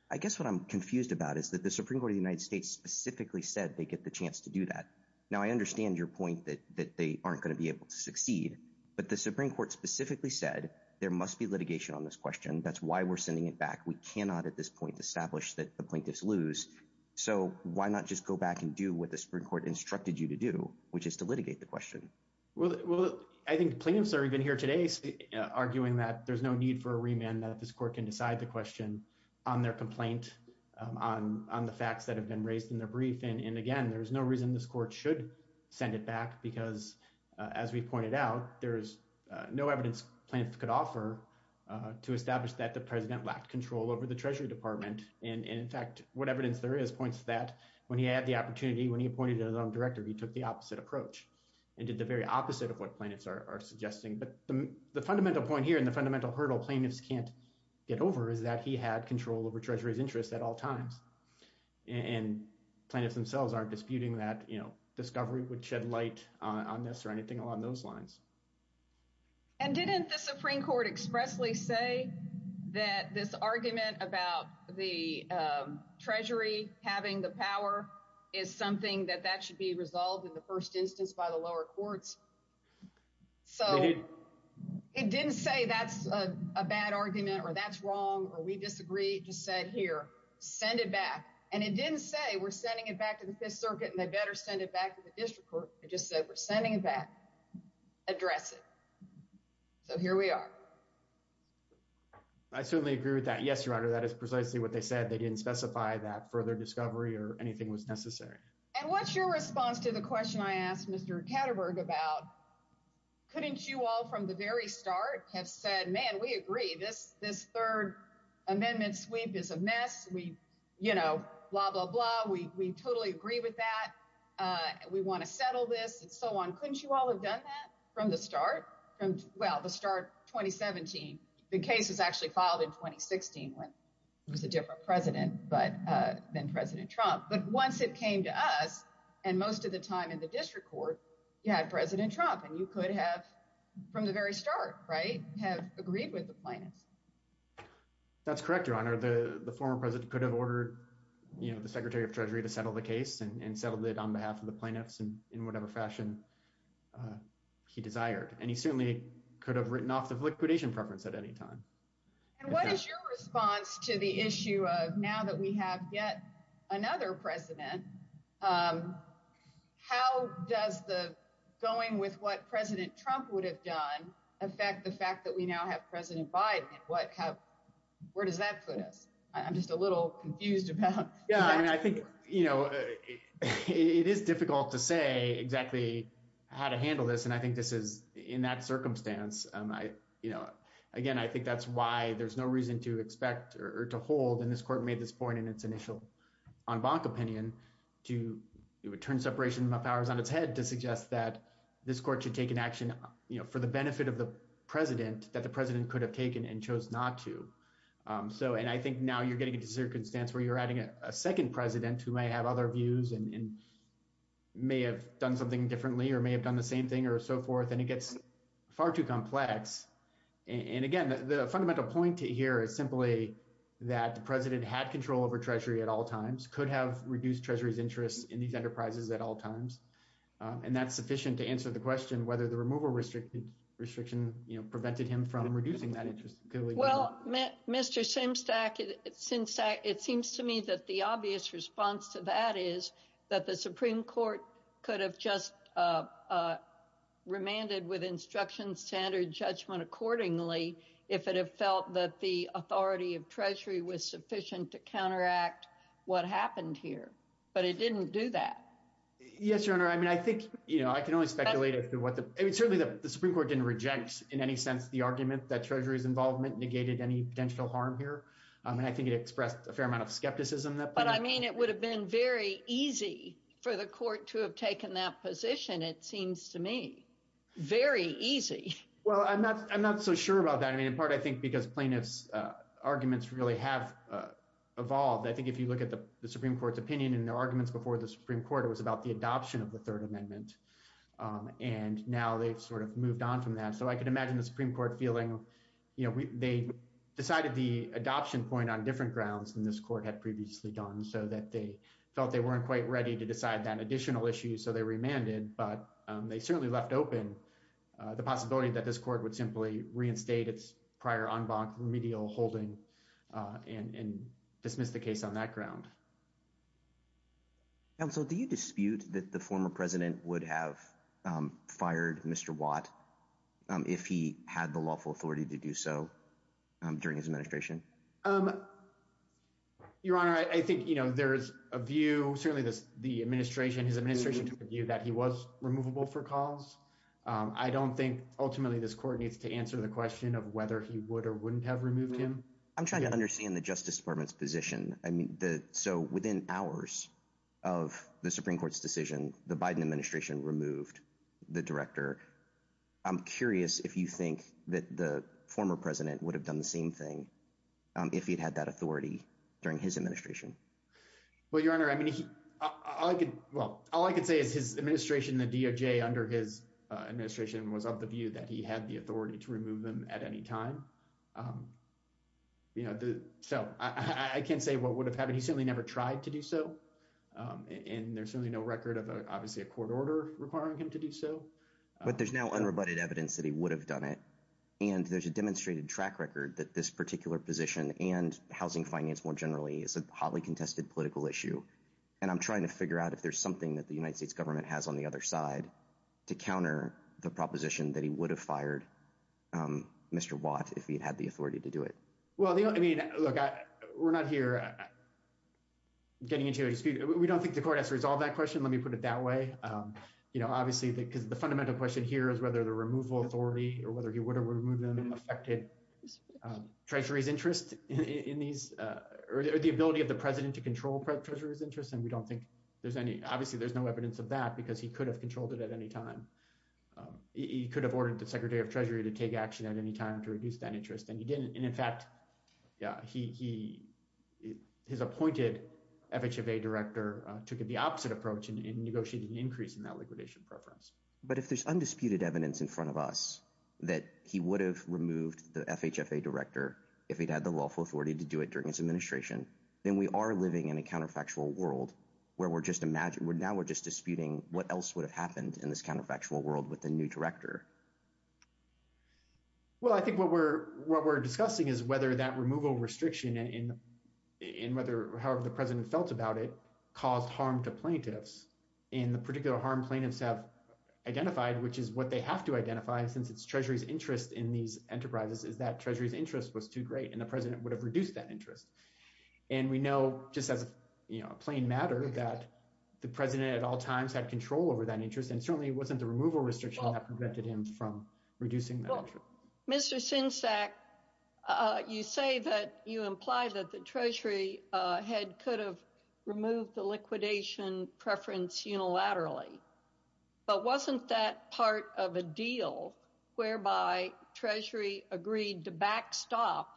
I guess what I'm confused about is that the Supreme Court of the United States specifically said they get the chance to do that. Now I understand your point that that they aren't going to be able to succeed, but the Supreme Court specifically said there must be litigation on this question. That's why we're sending it back. We cannot at this point establish that the plaintiffs lose. So why not just go back and do what the Supreme Court instructed you to do, which is to litigate the question? Well, I think plaintiffs are even here today arguing that there's no need for a remand that this court can decide the question on their complaint on the facts that have been raised in the brief. And again, there's no reason this court should send it back because as we pointed out, there's no evidence plaintiffs could offer to establish that the president lacked control over the treasury department. And in fact, what evidence there is points to that when he had the opportunity, when he appointed his own director, he took the opposite approach and did the very opposite of what plaintiffs are suggesting. But the fundamental point here and the fundamental hurdle plaintiffs can't get over is that he had control over treasury's interest at all times. And plaintiffs themselves aren't disputing that, you know, discovery would shed light on this or anything along those lines. And didn't the Supreme Court expressly say that this argument about the treasury having the power is something that that should be resolved in the first instance by the lower courts? So it didn't say that's a bad argument or that's wrong, or we disagree. Just said here, send it back. And it didn't say we're sending it back to the Fifth Circuit and they better send it back to the district court. It just said we're sending it back. Address it. So here we are. I certainly agree with that. Yes, Your Honor, that is precisely what they said. They didn't specify that further discovery or anything was necessary. And what's your response to the question I asked Mr. Katterberg about? Couldn't you all from the very start have said, man, we agree this this third amendment sweep is a mess. We, you know, blah, blah, blah. We totally agree with that. We want to settle this and so on. Couldn't you all have done that from the start? Well, the start 2017, the case was actually filed in 2016 when it was a different president, but then President Trump. But once it came to us and most of the time in the district court, you had President Trump and you could have from the very start, right, have agreed with the plaintiffs. That's correct, Your Honor. The former president could have ordered, you know, Secretary of Treasury to settle the case and settled it on behalf of the plaintiffs and in whatever fashion he desired. And he certainly could have written off the liquidation preference at any time. And what is your response to the issue of now that we have yet another president? How does the going with what President Trump would have done affect the fact that we now have President Biden? And what have where does that put us? I'm just a little confused about. Yeah, I mean, I think, you know, it is difficult to say exactly how to handle this. And I think this is in that circumstance. I, you know, again, I think that's why there's no reason to expect or to hold. And this court made this point in its initial en banc opinion to turn separation of powers on its head to suggest that this court should take an action for the benefit of the president that the president could have taken and chose not to. So and I think now you're getting to circumstance where you're adding a second president who may have other views and may have done something differently, or may have done the same thing or so forth, and it gets far too complex. And again, the fundamental point here is simply that the president had control over Treasury at all times could have reduced Treasury's interest in these enterprises at all times. And that's sufficient to answer the question whether the removal restricted restriction, prevented him from reducing that interest. Well, Mr. Simstack, since it seems to me that the obvious response to that is that the Supreme Court could have just remanded with instruction standard judgment accordingly, if it had felt that the authority of Treasury was sufficient to counteract what happened here. But it didn't do that. Yes, Your Honor. I mean, I think, you know, I can only speculate as to what the certainly the Supreme Court didn't reject in any sense, the argument that Treasury's involvement negated any potential harm here. And I think it expressed a fair amount of skepticism. But I mean, it would have been very easy for the court to have taken that position, it seems to me, very easy. Well, I'm not I'm not so sure about that. I mean, in part, I think because plaintiffs arguments really have evolved. I think if you look at the Supreme Court's opinion and their arguments before the Supreme Court, it was about the adoption of the Third Amendment. And now they've sort of moved on from that. So I can imagine the Supreme Court feeling, you know, they decided the adoption point on different grounds than this court had previously done so that they felt they weren't quite ready to decide that additional issue. So they remanded, but they certainly left open the possibility that this court would simply reinstate its prior en banc remedial holding and dismiss the case on that ground. And so do you dispute that the former president would have fired Mr. Watt if he had the lawful authority to do so during his administration? Your Honor, I think you know, there's a view certainly this the administration, his administration to view that he was removable for cause. I don't think ultimately, this court needs to answer the question of whether he would or wouldn't have removed him. I'm trying to understand the Justice Department's position. So within hours of the Supreme Court's decision, the Biden administration removed the director. I'm curious if you think that the former president would have done the same thing if he'd had that authority during his administration. Well, Your Honor, I mean, well, all I could say is his administration, the DOJ under his administration was of the view that he had the authority to remove them at any time. You know, so I can't say what would have happened. He certainly never tried to do so. And there's certainly no record of obviously a court order requiring him to do so. But there's now unrebutted evidence that he would have done it. And there's a demonstrated track record that this particular position and housing finance more generally is a hotly contested political issue. And I'm trying to figure out if there's something that the United States government has on the other side to counter the proposition that he would have fired Mr. Watt if he'd had the authority to do it. Well, I mean, look, we're not here getting into a dispute. We don't think the court has to resolve that question. Let me put it that way. You know, obviously, because the fundamental question here is whether the removal authority or whether he would have removed them and affected Treasury's interest in these or the ability of the president to control Treasury's interest. And we don't think there's any obviously there's no evidence of that because he could have controlled it at any time. He could have ordered the secretary of Treasury to take action at any time to reduce that interest. And he didn't. And in fact, yeah, he he his appointed FHFA director took the opposite approach and negotiated an increase in that liquidation preference. But if there's undisputed evidence in front of us that he would have removed the FHFA director if he'd had the lawful authority to do it during his administration, then we are living in a counterfactual world where we're just imagine we're now we're just disputing what else would have happened in this counterfactual world with a new director. Well, I think what we're what we're discussing is whether that removal restriction in in whether however the president felt about it caused harm to plaintiffs in the particular harm plaintiffs have identified, which is what they have to identify since it's Treasury's interest in these enterprises is that Treasury's interest was too great and the president would have reduced that interest. And we know just as a plain matter that the president at all times had control over that interest and certainly wasn't the removal restriction that prevented him from reducing. Mr. Sinsack, you say that you imply that the Treasury head could have removed the liquidation preference unilaterally, but wasn't that part of a deal whereby Treasury agreed to backstop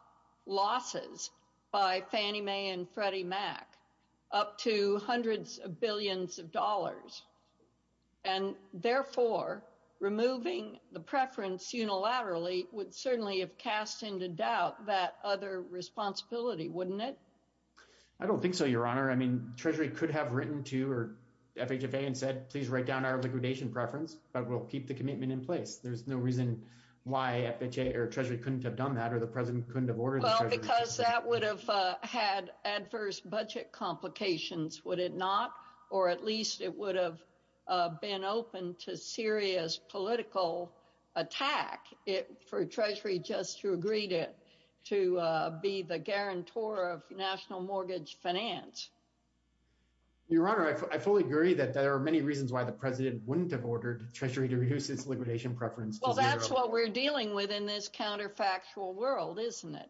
losses by Fannie Mae and Freddie Mac up to hundreds of billions of dollars? And therefore, removing the preference unilaterally would certainly have cast into doubt that other responsibility, wouldn't it? I don't think so, Your Honor. I mean, Treasury could have written to or FHFA and said, please write down our liquidation preference, but we'll keep the commitment in place. There's no reason why FHFA or Treasury couldn't have done that or the president couldn't have ordered it. Well, because that would have had adverse budget complications, would it not? Or at least it would have been open to serious political attack for Treasury just to agree to be the guarantor of national mortgage finance. Your Honor, I fully agree that there are many reasons why the president wouldn't have ordered Treasury to reduce its liquidation preference. Well, that's what we're dealing with in this counterfactual world, isn't it?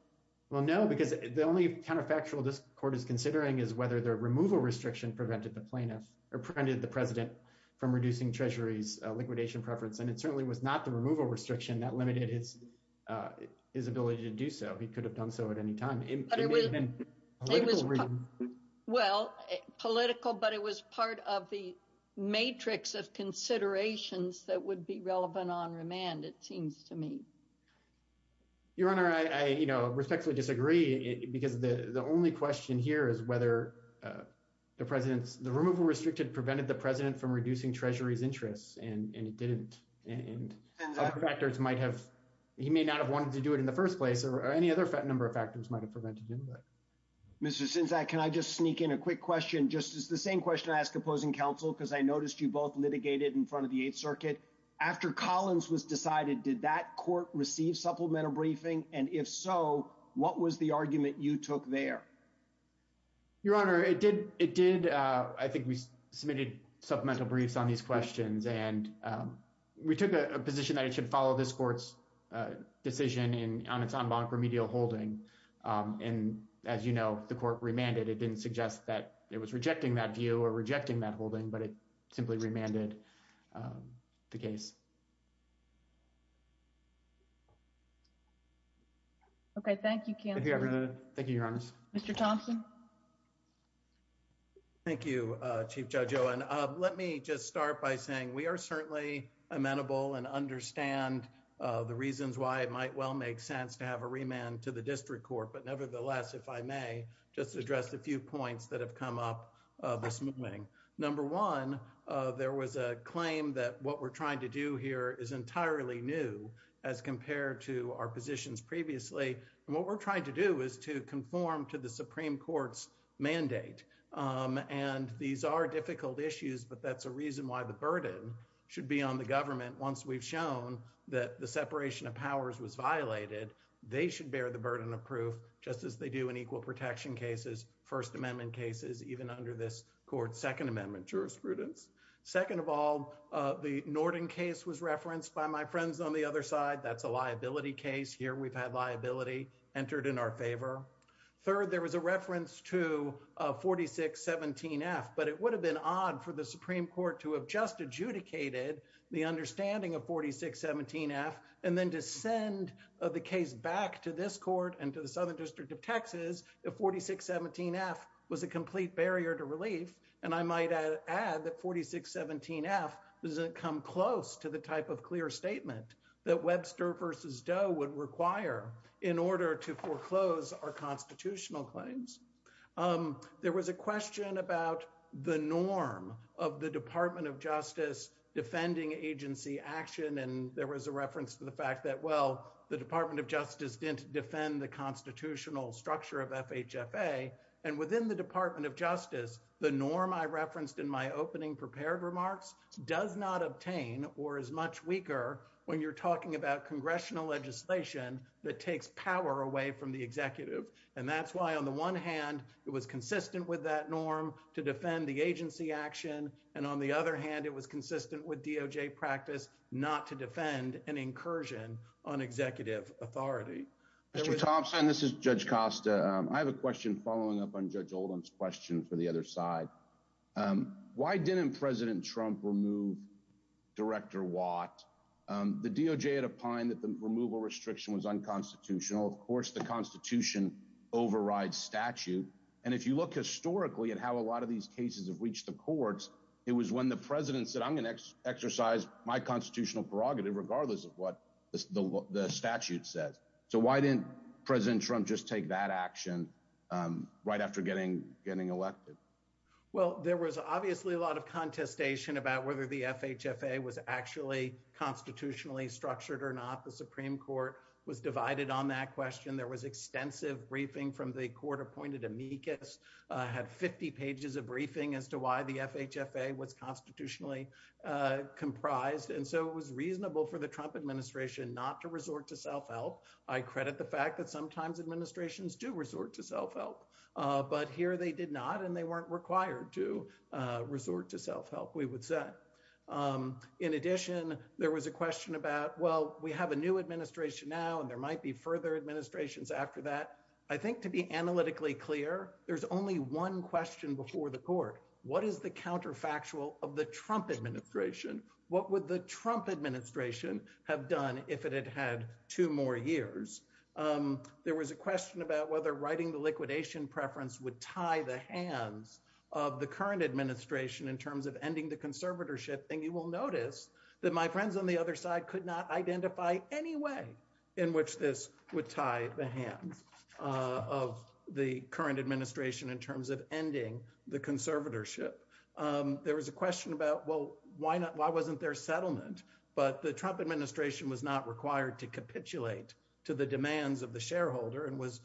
Well, no, because the only counterfactual this court is considering is whether the removal restriction prevented the president from reducing Treasury's liquidation preference. And it certainly was not the removal restriction that limited his ability to do so. He could have done so at any time. Well, political, but it was part of the matrix of considerations that would be relevant on remand, it seems to me. Your Honor, I respectfully disagree because the only question here is whether the removal restriction prevented the president from reducing Treasury's interests, and it didn't. And other factors might have, he may not have wanted to do it in the first place, or any other number of factors might have prevented him. Mr. Sinzak, can I just sneak in a quick question, just the same question I noticed you both litigated in front of the Eighth Circuit. After Collins was decided, did that court receive supplemental briefing? And if so, what was the argument you took there? Your Honor, I think we submitted supplemental briefs on these questions, and we took a position that it should follow this court's decision on its en banc remedial holding. And as you know, the court remanded. It didn't suggest that it was rejecting that view or rejecting that holding, but it simply remanded the case. Okay, thank you. Thank you, Your Honor. Mr. Thompson. Thank you, Chief Judge Owen. Let me just start by saying we are certainly amenable and understand the reasons why it might well make sense to have a remand to the district court. But nevertheless, if I may just address a few points that have come up this morning. Number one, there was a claim that what we're trying to do here is entirely new as compared to our positions previously. And what we're trying to do is to conform to the Supreme Court's mandate. And these are difficult issues, but that's a reason why the burden should be on the government. Once we've shown that the inequal protection cases, First Amendment cases, even under this court's Second Amendment jurisprudence. Second of all, the Norton case was referenced by my friends on the other side. That's a liability case. Here we've had liability entered in our favor. Third, there was a reference to 4617F, but it would have been odd for the Supreme Court to have just adjudicated the understanding of 4617F and then to send the case back to this court and to the Southern District of Texas if 4617F was a complete barrier to relief. And I might add that 4617F doesn't come close to the type of clear statement that Webster v. Doe would require in order to foreclose our constitutional claims. There was a question about the norm of the Department of Justice defending agency action. And there was a reference to the fact that, well, the Department of Justice didn't defend the constitutional structure of FHFA. And within the Department of Justice, the norm I referenced in my opening prepared remarks does not obtain or is much weaker when you're talking about congressional legislation that takes power away from the executive. And that's why, on the one hand, it was consistent with that norm to defend the agency action, and on the other hand, it was consistent with DOJ practice not to defend an incursion on executive authority. Mr. Thompson, this is Judge Costa. I have a question following up on Judge Oldham's question for the other side. Why didn't President Trump remove Director Watt? The DOJ had opined that the removal restriction was unconstitutional. Of course, the Constitution overrides statute. And if you look historically at how a lot of these cases have reached the courts, it was when the President said, I'm going to exercise my statute says. So why didn't President Trump just take that action right after getting elected? Well, there was obviously a lot of contestation about whether the FHFA was actually constitutionally structured or not. The Supreme Court was divided on that question. There was extensive briefing from the court-appointed amicus, had 50 pages of briefing as to why the FHFA was to self-help. I credit the fact that sometimes administrations do resort to self-help, but here they did not, and they weren't required to resort to self-help, we would say. In addition, there was a question about, well, we have a new administration now, and there might be further administrations after that. I think to be analytically clear, there's only one question before the court. What is the counterfactual of the Trump administration? What would the Trump administration have done if it had had two more years? There was a question about whether writing the liquidation preference would tie the hands of the current administration in terms of ending the conservatorship, and you will notice that my friends on the other side could not identify any way in which this would tie the hands of the current administration in terms of ending the conservatorship. There was a question about, well, why wasn't there settlement? But the Trump administration was not required to capitulate to the demands of the shareholder and was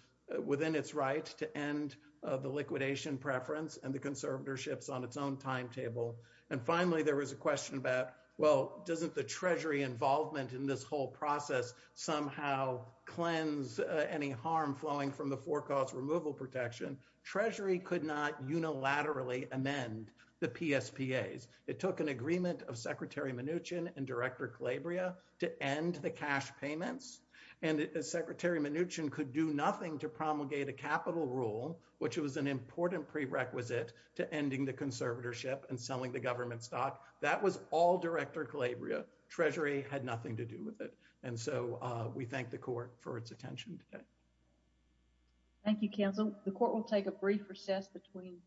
within its right to end the liquidation preference and the conservatorships on its own timetable. And finally, there was a question about, well, doesn't the Treasury involvement in this whole process somehow cleanse any harm flowing from the forecast removal protection? Treasury could not unilaterally amend the PSPAs. It took an agreement of Secretary Mnuchin and Director Calabria to end the cash payments, and Secretary Mnuchin could do nothing to promulgate a capital rule, which was an important prerequisite to ending the conservatorship and selling the government stock. That was all Director Calabria. Treasury had nothing to do with it. And so we thank the court for its attention today. Thank you, counsel. The court will take a brief recess between